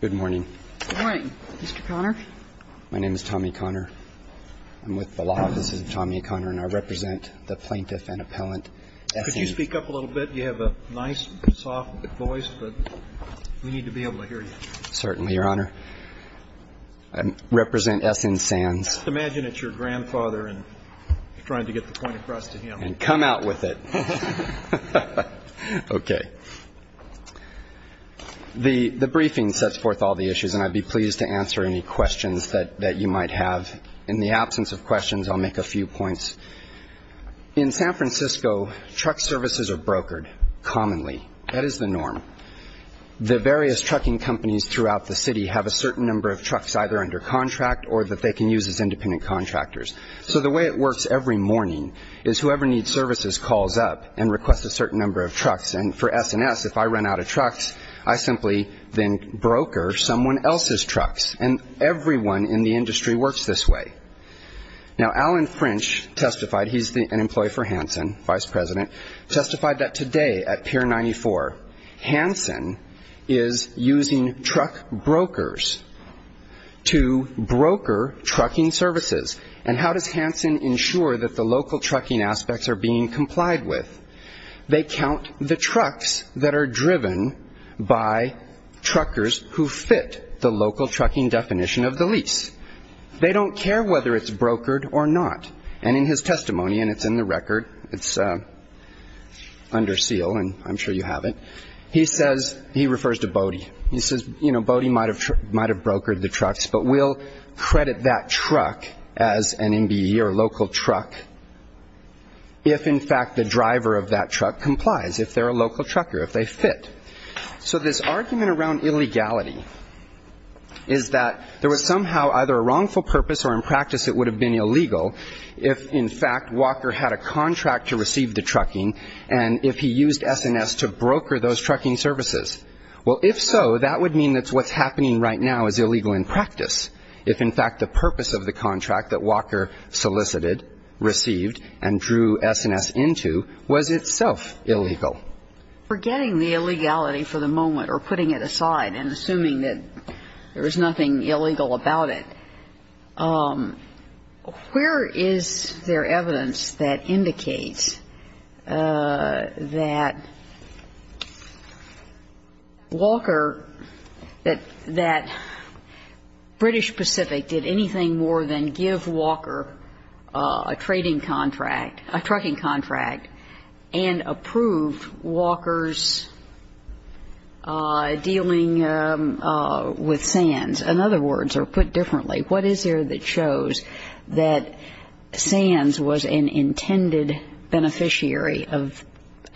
Good morning. Good morning, Mr. Conner. My name is Tommy Conner. I'm with the Law Offices of Tommy Conner and I represent the plaintiff and appellant S.N. Could you speak up a little bit? You have a nice, soft voice, but we need to be able to hear you. Certainly, Your Honor. I represent S.N. Sands. Imagine it's your grandfather and trying to get the point across to him. And come out with it. Okay. The briefing sets forth all the issues and I'd be pleased to answer any questions that you might have. In the absence of questions, I'll make a few points. In San Francisco, truck services are brokered, commonly. That is the norm. The various trucking companies throughout the city have a certain number of trucks either under contract or that they can use as independent contractors. So the way it works every morning is whoever needs services calls up and requests a certain number of trucks. And for S.N. S., if I run out of trucks, I simply then broker someone else's trucks. And everyone in the industry works this way. Now, Alan French testified, he's an employee for Hansen, Vice President of Hansen, and he says, using truck brokers to broker trucking services. And how does Hansen ensure that the local trucking aspects are being complied with? They count the trucks that are driven by truckers who fit the local trucking definition of the lease. They don't care whether it's brokered or not. And in his testimony, and it's in the record, it's under seal, and I'm sure you have it, he says, he refers to Bodie. He says, you know, Bodie might have brokered the trucks, but we'll credit that truck as an MBE or a local truck if, in fact, the driver of that truck complies, if they're a local trucker, if they fit. So this argument around illegality is that there was somehow either a wrongful purpose or, in practice, it would have been illegal if, in fact, Walker had a contract to receive the trucking and if he used S&S to broker those trucking services. Well, if so, that would mean that what's happening right now is illegal in practice, if, in fact, the purpose of the contract that Walker solicited, received, and drew S&S into was itself illegal. Forgetting the illegality for the moment or putting it aside and assuming that there was something illegal about it, where is there evidence that indicates that Walker, that British Pacific did anything more than give Walker a trading contract, a trucking contract, and approved Walker's dealing with Sands? In other words, or put differently, what is there that shows that Sands was an intended beneficiary of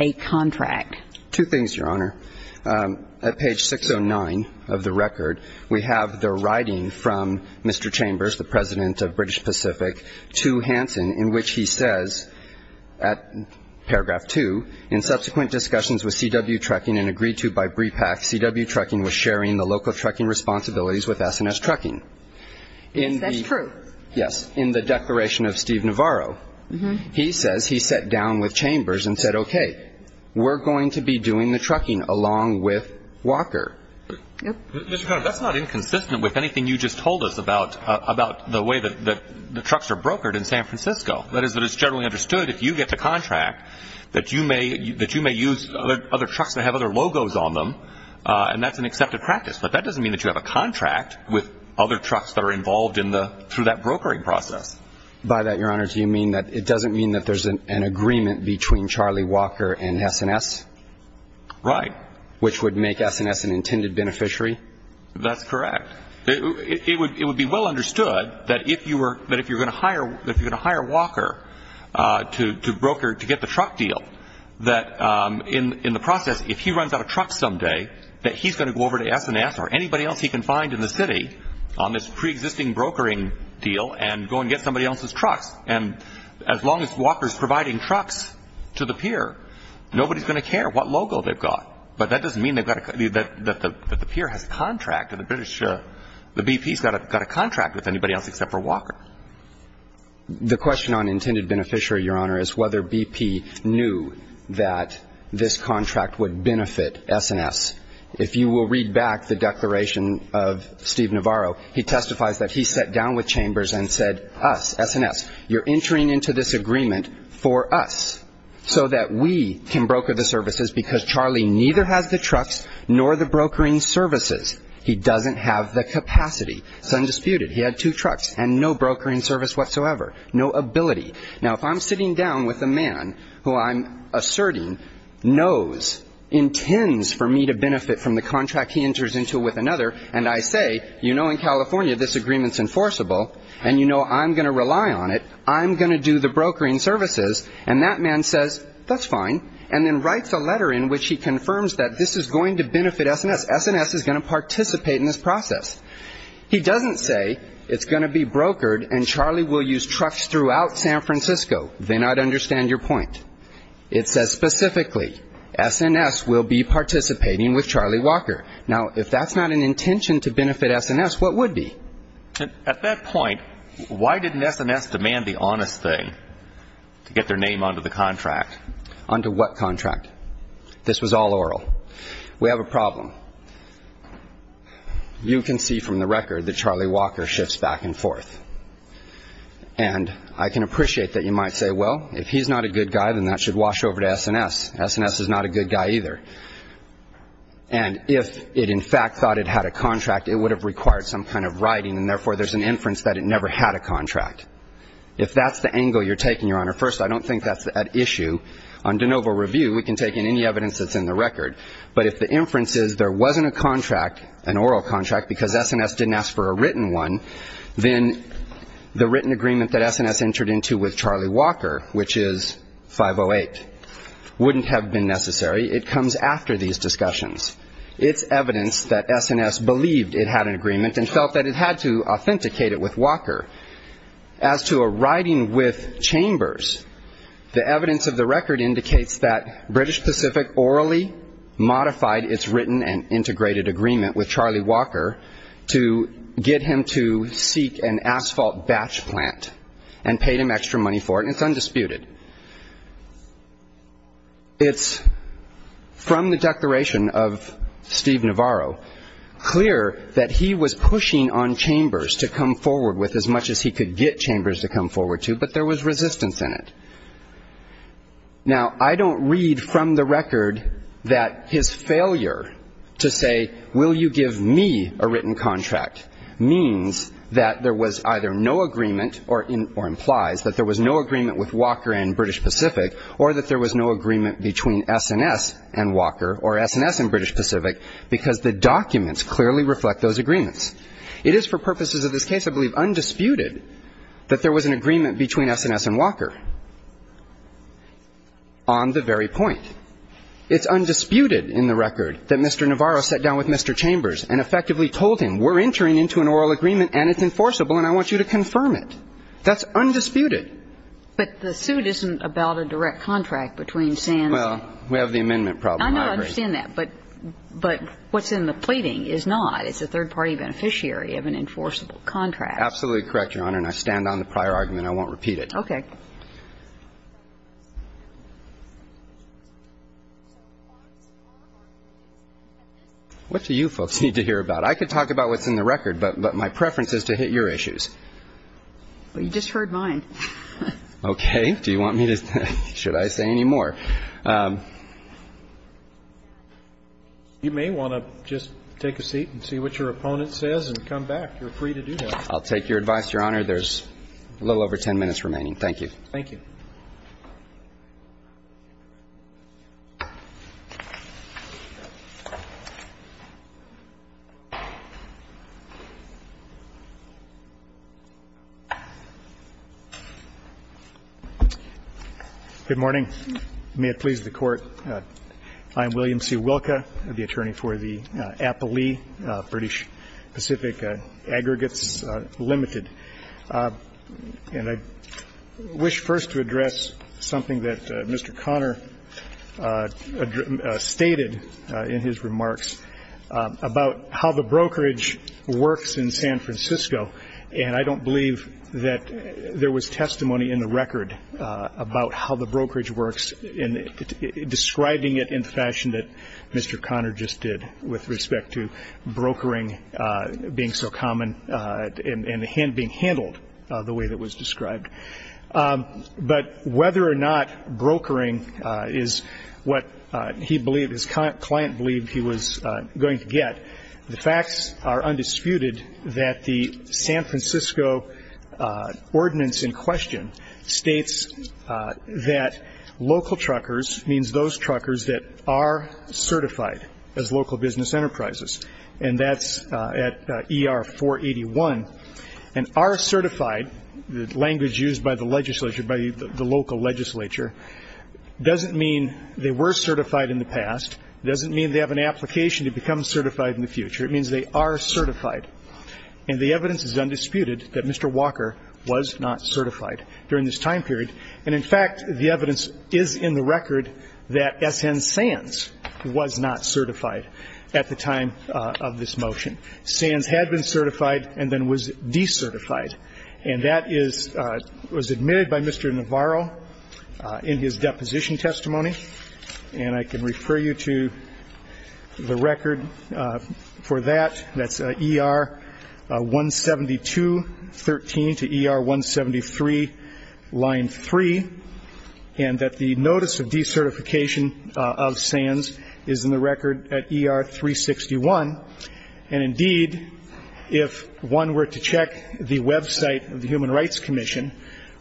a contract? Two things, Your Honor. At page 609 of the record, we have the writing from Mr. Chambers, the President of British Pacific, to Hansen, in which he says, at paragraph 2, In subsequent discussions with CW Trucking and agreed to by BREPAC, CW Trucking was sharing the local trucking responsibilities with S&S Trucking. Yes, that's true. Yes. In the declaration of Steve Navarro, he says he sat down with Chambers and said, Okay, we're going to be doing the trucking along with Walker. Mr. Connolly, that's not inconsistent with anything you just told us about the way that the trucks are brokered in San Francisco. That is that it's generally understood, if you get the contract, that you may use other trucks that have other logos on them, and that's an accepted practice. But that doesn't mean that you have a contract with other trucks that are involved through that brokering process. By that, Your Honor, do you mean that it doesn't mean that there's an agreement between Charlie Walker and S&S? Right. Which would make S&S an intended beneficiary? That's correct. It would be well understood that if you were going to hire Walker to broker to get the truck deal, that in the process, if he runs out of trucks someday, that he's going to go over to S&S or anybody else he can find in the city on this preexisting brokering deal and go and get somebody else's trucks. And as long as Walker's providing trucks to the pier, nobody's going to care what logo they've got. But that doesn't mean that the pier has a contract. The BP's got a contract with anybody else except for Walker. The question on intended beneficiary, Your Honor, is whether BP knew that this contract would benefit S&S. If you will read back the declaration of Steve Navarro, he testifies that he sat down with Chambers and said, us, S&S, you're entering into this agreement for us so that we can neither have the trucks nor the brokering services. He doesn't have the capacity. It's undisputed. He had two trucks and no brokering service whatsoever. No ability. Now if I'm sitting down with a man who I'm asserting knows, intends for me to benefit from the contract he enters into with another, and I say, you know in California this agreement's enforceable and you know I'm going to rely on it, I'm going to do the brokering services, and that man says, that's fine, and then writes a letter in which he confirms that this is going to benefit S&S. S&S is going to participate in this process. He doesn't say, it's going to be brokered and Charlie will use trucks throughout San Francisco. Then I'd understand your point. It says specifically, S&S will be participating with Charlie Walker. Now if that's not an intention to benefit S&S, what would be? At that point, why didn't S&S demand the honest thing to get their name onto the contract? Onto what contract? This was all oral. We have a problem. You can see from the record that Charlie Walker shifts back and forth. And I can appreciate that you might say, well, if he's not a good guy then that should wash over to S&S. S&S is not a good guy either. And if it in fact thought it had a contract, it would have required some kind of writing and therefore there's an inference that it never had a contract. If that's the angle you're taking, Your Honor, first, I don't think that's an issue. On de novo review, we can take in any evidence that's in the record. But if the inference is there wasn't a contract, an oral contract, because S&S didn't ask for a written one, then the written agreement that S&S entered into with Charlie Walker, which is 508, wouldn't have been necessary. It comes after these discussions. It's evidence that S&S believed it had an agreement and felt that it had to authenticate it with Walker. As to a writing with Chambers, the evidence of the record indicates that British Pacific orally modified its written and integrated agreement with Charlie Walker to get him to seek an asphalt batch plant and paid him extra money for it, and it's undisputed. It's from the declaration of Steve Navarro clear that he was pushing on Chambers to come forward with as much as he could get Chambers to come forward to, but there was resistance in it. Now, I don't read from the record that his failure to say, will you give me a written contract, means that there was either no agreement or implies that there was no agreement with Walker and British Pacific or that there was no agreement between S&S and Walker or S&S and British Pacific, because the documents clearly reflect those agreements. It is for purposes of this case, I believe, undisputed that there was an agreement between S&S and Walker on the very point. It's undisputed in the record that Mr. Navarro sat down with Mr. Chambers and effectively told him, we're entering into an oral agreement, and it's enforceable, and I want you to confirm it. That's undisputed. But the suit isn't about a direct contract between S&S and Walker. Well, we have the amendment problem. I know. I understand that. But what's in the pleading is not. It's a third-party beneficiary of an enforceable contract. Absolutely correct, Your Honor, and I stand on the prior argument. I won't repeat it. Okay. What do you folks need to hear about? I could talk about what's in the written record, but my preference is to hit your issues. Well, you just heard mine. Okay. Do you want me to – should I say any more? You may want to just take a seat and see what your opponent says and come back. You're free to do that. I'll take your advice, Your Honor. There's a little over 10 minutes remaining. Thank you. Thank you. Good morning. May it please the Court. I'm William C. Wilka. I'm the attorney for the Applee British Pacific Aggregates Limited. And I wish first to address something that Mr. Conner stated in his remarks about how the brokerage works in San Francisco. And I don't believe that there was testimony in the record about how the brokerage works and describing it in the fashion that Mr. Conner just did with respect to brokering being so common and being handled the way that was described. But whether or not brokering is what he believed, his client believed he was going to get, the facts are undisputed that the San Francisco ordinance in question states that local truckers means those truckers that are certified as local business enterprises. And that's at And are certified, the language used by the legislature, by the local legislature, doesn't mean they were certified in the past, doesn't mean they have an application to become certified in the future. It means they are certified. And the evidence is undisputed that Mr. Walker was not certified during this time period. And in fact, the evidence is in the record that S.N. Sands was not certified at the time of this motion. Sands had been certified and then was decertified. And that is, was admitted by Mr. Navarro in his deposition testimony. And I can refer you to the record for that. That's ER 172.13 to ER 173, line 3. And that the notice of decertification of Sands is in the record at ER 361. And indeed, if one were to check the website of the Human Rights Commission,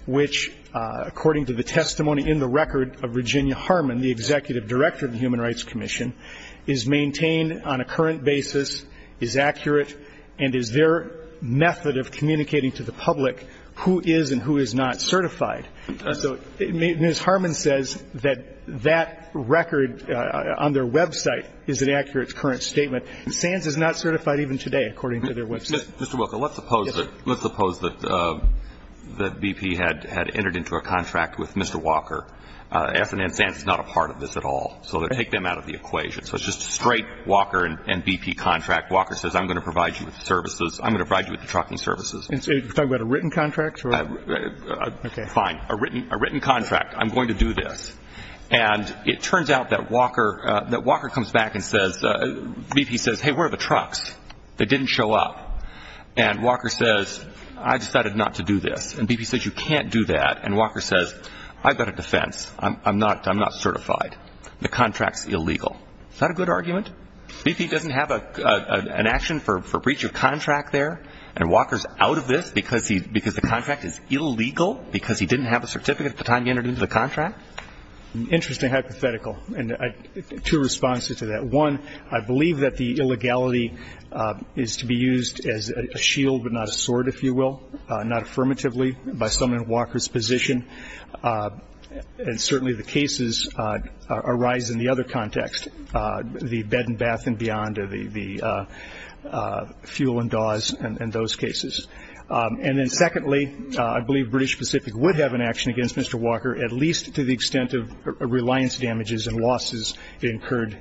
which according to the testimony in the record of Virginia Harmon, the Executive Director of the Human Rights Commission, is maintained on a current basis, is accurate, and is their method of certified. And so Ms. Harmon says that that record on their website is an accurate current statement. Sands is not certified even today, according to their website. Mr. Wilker, let's suppose that BP had entered into a contract with Mr. Walker. S.N. Sands is not a part of this at all. So take them out of the equation. So it's just a straight Walker and BP contract. Walker says, I'm going to provide you with the services. I'm going to provide you with the trucking services. Are you talking about a written contract? Fine. A written contract. I'm going to do this. And it turns out that Walker comes back and says, BP says, hey, where are the trucks? They didn't show up. And Walker says, I decided not to do this. And BP says, you can't do that. And Walker says, I've got a defense. I'm not certified. The contract's illegal. Is that a good argument? BP doesn't have an action for breach of contract there. And Walker's out of this because the contract is illegal because he didn't have a certificate at the time he entered into the contract? Interesting hypothetical. And two responses to that. One, I believe that the illegality is to be used as a shield, but not a sword, if you will. Not affirmatively by someone in Walker's position. And certainly the cases arise in the other context. The bed and bath and beyond. The fuel and Dawes and those cases. And then secondly, I believe British Pacific would have an action against Mr. Walker, at least to the extent of reliance damages and losses incurred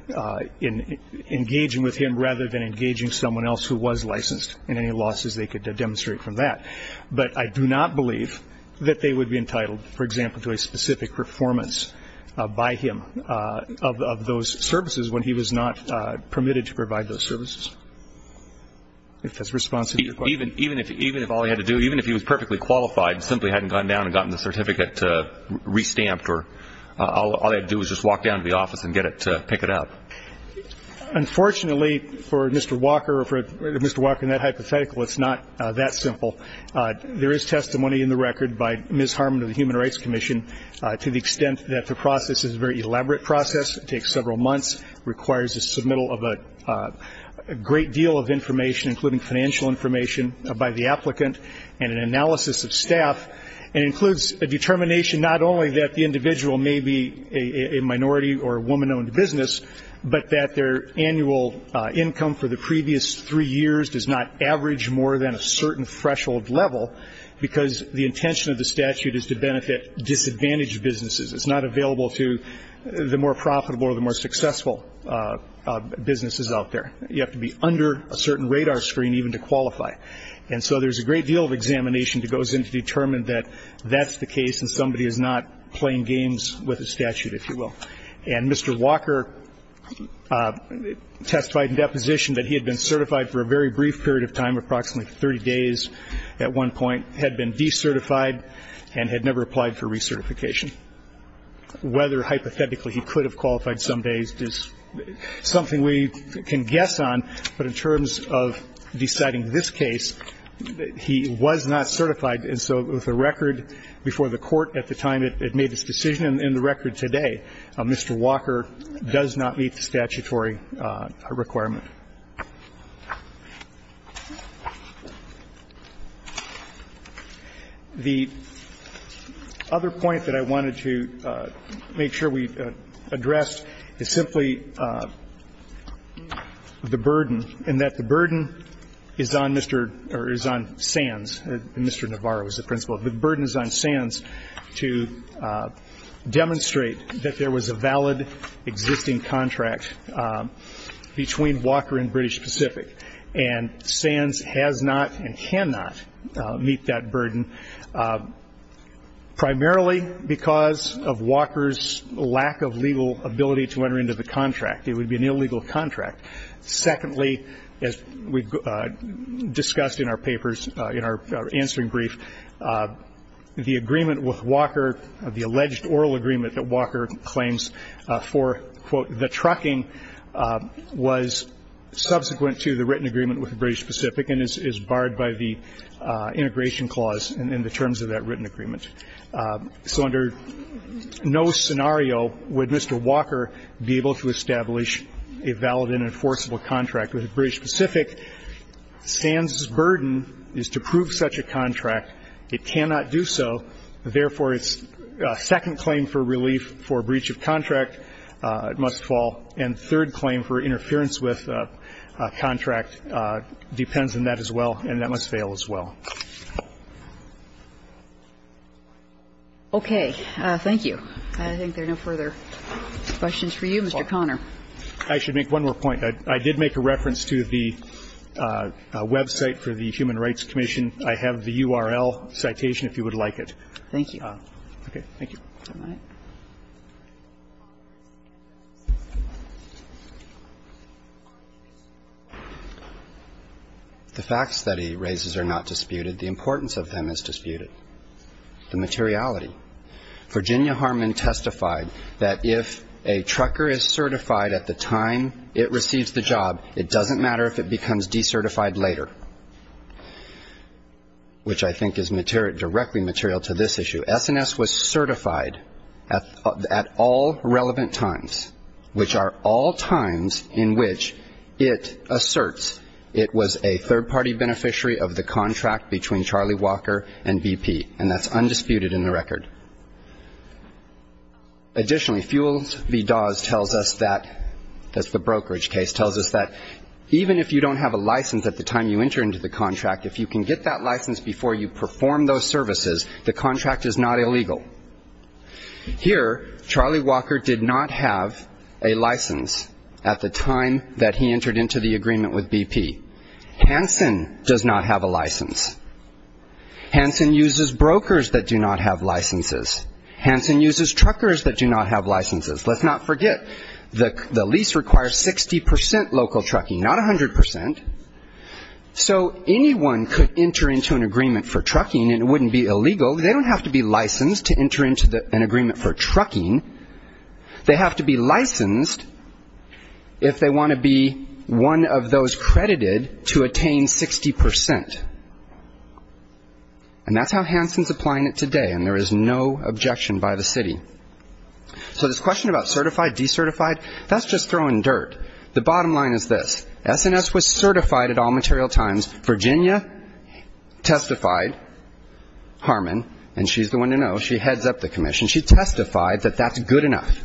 in engaging with him rather than engaging someone else who was licensed and any losses they could demonstrate from that. But I do not believe that they would be entitled, for example, to a specific performance by him of those services when he was not permitted to provide those services. If that's responsive to your question. Even if all he had to do, even if he was perfectly qualified and simply hadn't gone down and gotten the certificate re-stamped or all he had to do was just walk down to the office and get it to pick it up? Unfortunately for Mr. Walker or for Mr. Walker in that hypothetical, it's not that simple. There is testimony in the record by Ms. Harmon of the Human Rights Commission to the extent that the process is a very elaborate process. It takes several months, requires the submittal of a great deal of information, including financial information by the applicant and an analysis of staff. It includes a determination not only that the individual may be a minority or a woman-owned business, but that their annual income for the previous three years does not average more than a certain threshold level because the intention of the statute is to benefit disadvantaged businesses. It's not available to the more profitable or the more successful businesses out there. You have to be under a certain radar screen even to qualify. And so there's a great deal of examination that goes in to determine that that's the case and somebody is not playing games with the statute, if you will. And Mr. Walker testified in deposition that he had been certified for a very brief period of time, approximately 30 days at one point, had been decertified and had never applied for recertification. Whether hypothetically he could have qualified some days is something we can guess on, but in terms of deciding this case, he was not certified. And so with the record before the Court at the time it made its decision and in the record today, Mr. Walker does not meet the statutory requirement. The other thing I want to point out, the other point that I wanted to make sure we addressed is simply the burden and that the burden is on Mr. or is on Sands, Mr. Navarro is the principal. The burden is on Sands to demonstrate that there was a valid existing contract between Walker and British Pacific. And Sands has not and cannot meet that burden primarily because of Walker's lack of legal ability to enter into the contract. It would be an illegal contract. Secondly, as we discussed in our papers, in our answering brief, the agreement with Walker, the alleged oral agreement that Walker claims for, quote, the trucking was subsequent to the written agreement with the British Pacific and is barred by the integration clause in the terms of that written agreement. So under no scenario would Mr. Walker be able to establish a valid and enforceable contract with the British Pacific. Sands' burden is to prove such a contract. It cannot do so. Therefore, its second claim for relief for breach of contract must fall. And third claim for interference with contract depends on that as well, and that must fail as well. Okay. Thank you. I think there are no further questions for you, Mr. Conner. I should make one more point. I did make a reference to the website for the Human Rights Commission. I have the URL citation if you would like it. Thank you. Okay. Thank you. All right. The facts that he raises are not disputed. The importance of them is disputed, the materiality. Virginia Harmon testified that if a trucker is certified at the time it receives the job, it doesn't matter if it becomes decertified later, which I think is directly material to this issue. S&S was certified at all relevant times, which are all times in which it asserts it was a third-party beneficiary of the contract between Charlie Walker and BP, and that's undisputed in the record. Additionally, Fuels v. Dawes tells us that the brokerage case tells us that even if you don't have a license at the time you enter into the contract, if you can get that license before you perform those services, the contract is not illegal. Here, Charlie Walker did not have a license at the time that he entered into the agreement with BP. Hansen does not have a license. Hansen uses brokers that do not have licenses. Hansen uses truckers that do not have licenses. Let's not forget, the lease requires 60 percent local trucking, not 100 percent. So anyone could enter into an agreement for trucking, and it wouldn't be illegal. They don't have to be licensed to enter into an agreement for trucking. They have to be licensed if they want to be one of those credited to attain 60 percent. And that's how Hansen's applying it today, and there is no objection by the city. So this question about certified, decertified, that's just throwing dirt. The bottom line is this. S&S was certified at all material times. Virginia testified, Harmon, and she's the one to know. She heads up the commission. She testified that that's good enough,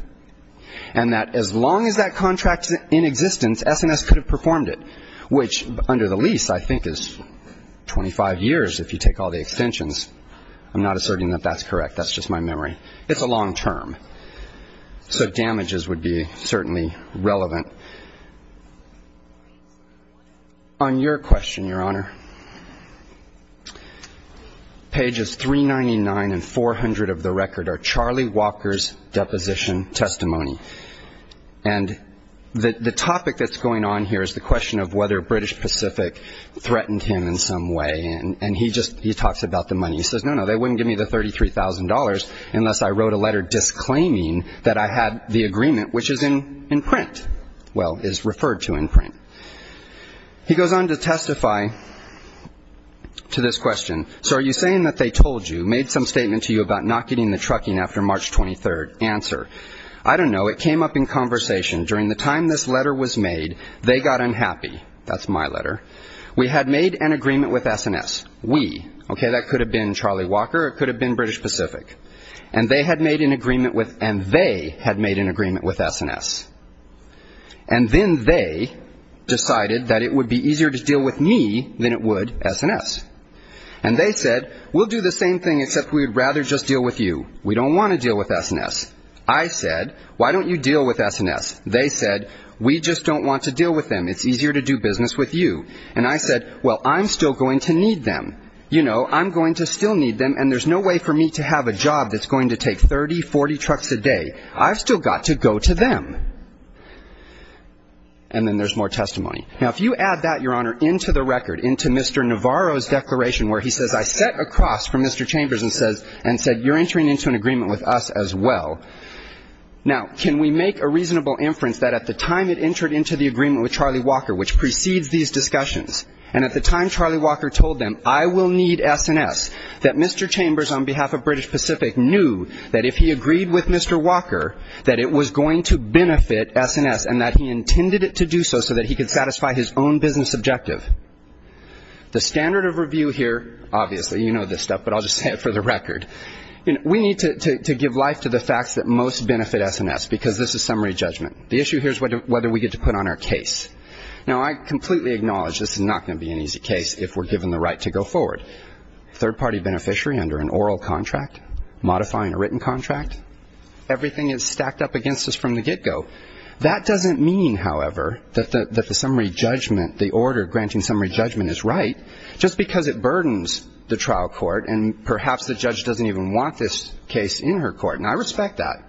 and that as long as that contract is in existence, S&S could have performed it, which under the lease I think is 25 years if you take all the extensions. I'm not asserting that that's correct. That's just my memory. It's a long term. So damages would be certainly relevant. On your question, Your Honor, pages 399 and 400 of the record are Charlie Walker's deposition testimony. And the topic that's going on here is the question of whether British Pacific threatened him in some way, and he just talks about the money. He says, No, no, they wouldn't give me the $33,000 unless I wrote a letter disclaiming that I had the agreement, which is in print, well, is referred to in print. He goes on to testify to this question. So are you saying that they told you, made some statement to you about not getting the trucking after March 23rd? Answer, I don't know. It came up in conversation. During the time this letter was made, they got unhappy. That's my letter. We had made an agreement with S&S. We. Okay, that could have been Charlie Walker. It could have been British Pacific. And they had made an agreement with S&S. And then they decided that it would be easier to deal with me than it would S&S. And they said, We'll do the same thing except we would rather just deal with you. We don't want to deal with S&S. I said, Why don't you deal with S&S? They said, We just don't want to deal with them. It's easier to do business with you. And I said, Well, I'm still going to need them. You know, I'm going to still need them. And there's no way for me to have a job that's going to take 30, 40 trucks a day. I've still got to go to them. And then there's more testimony. Now, if you add that, Your Honor, into the record, into Mr. Navarro's declaration where he says, I sat across from Mr. Chambers and said, You're entering into an agreement with us as well. Now, can we make a reasonable inference that at the time it entered into the agreement with Charlie Walker, which precedes these discussions, and at the time Charlie Walker told them, I will need S&S, that Mr. Chambers, on behalf of British Pacific, knew that if he agreed with Mr. Walker that it was going to benefit S&S and that he intended it to do so so that he could satisfy his own business objective? The standard of review here, obviously, you know this stuff, but I'll just say it for the record. We need to give life to the facts that most benefit S&S because this is summary judgment. The issue here is whether we get to put on our case. Now, I completely acknowledge this is not going to be an easy case if we're given the right to go forward. Third-party beneficiary under an oral contract, modifying a written contract, everything is stacked up against us from the get-go. That doesn't mean, however, that the summary judgment, the order granting summary judgment is right, just because it burdens the trial court and perhaps the judge doesn't even want this case in her court. And I respect that.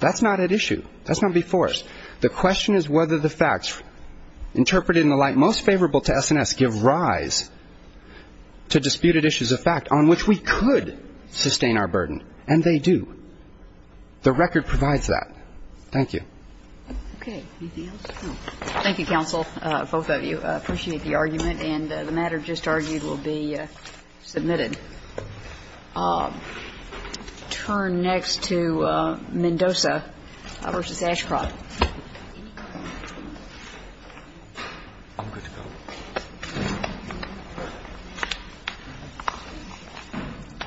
That's not at issue. That's not before us. The question is whether the facts interpreted in the light most favorable to S&S give rise to disputed issues of fact on which we could sustain our burden, and they do. The record provides that. Thank you. Okay. Anything else? No. Thank you, counsel, both of you. I appreciate the argument, and the matter just argued will be submitted. Turn next to Mendoza v. Ashcroft. I'm good to go.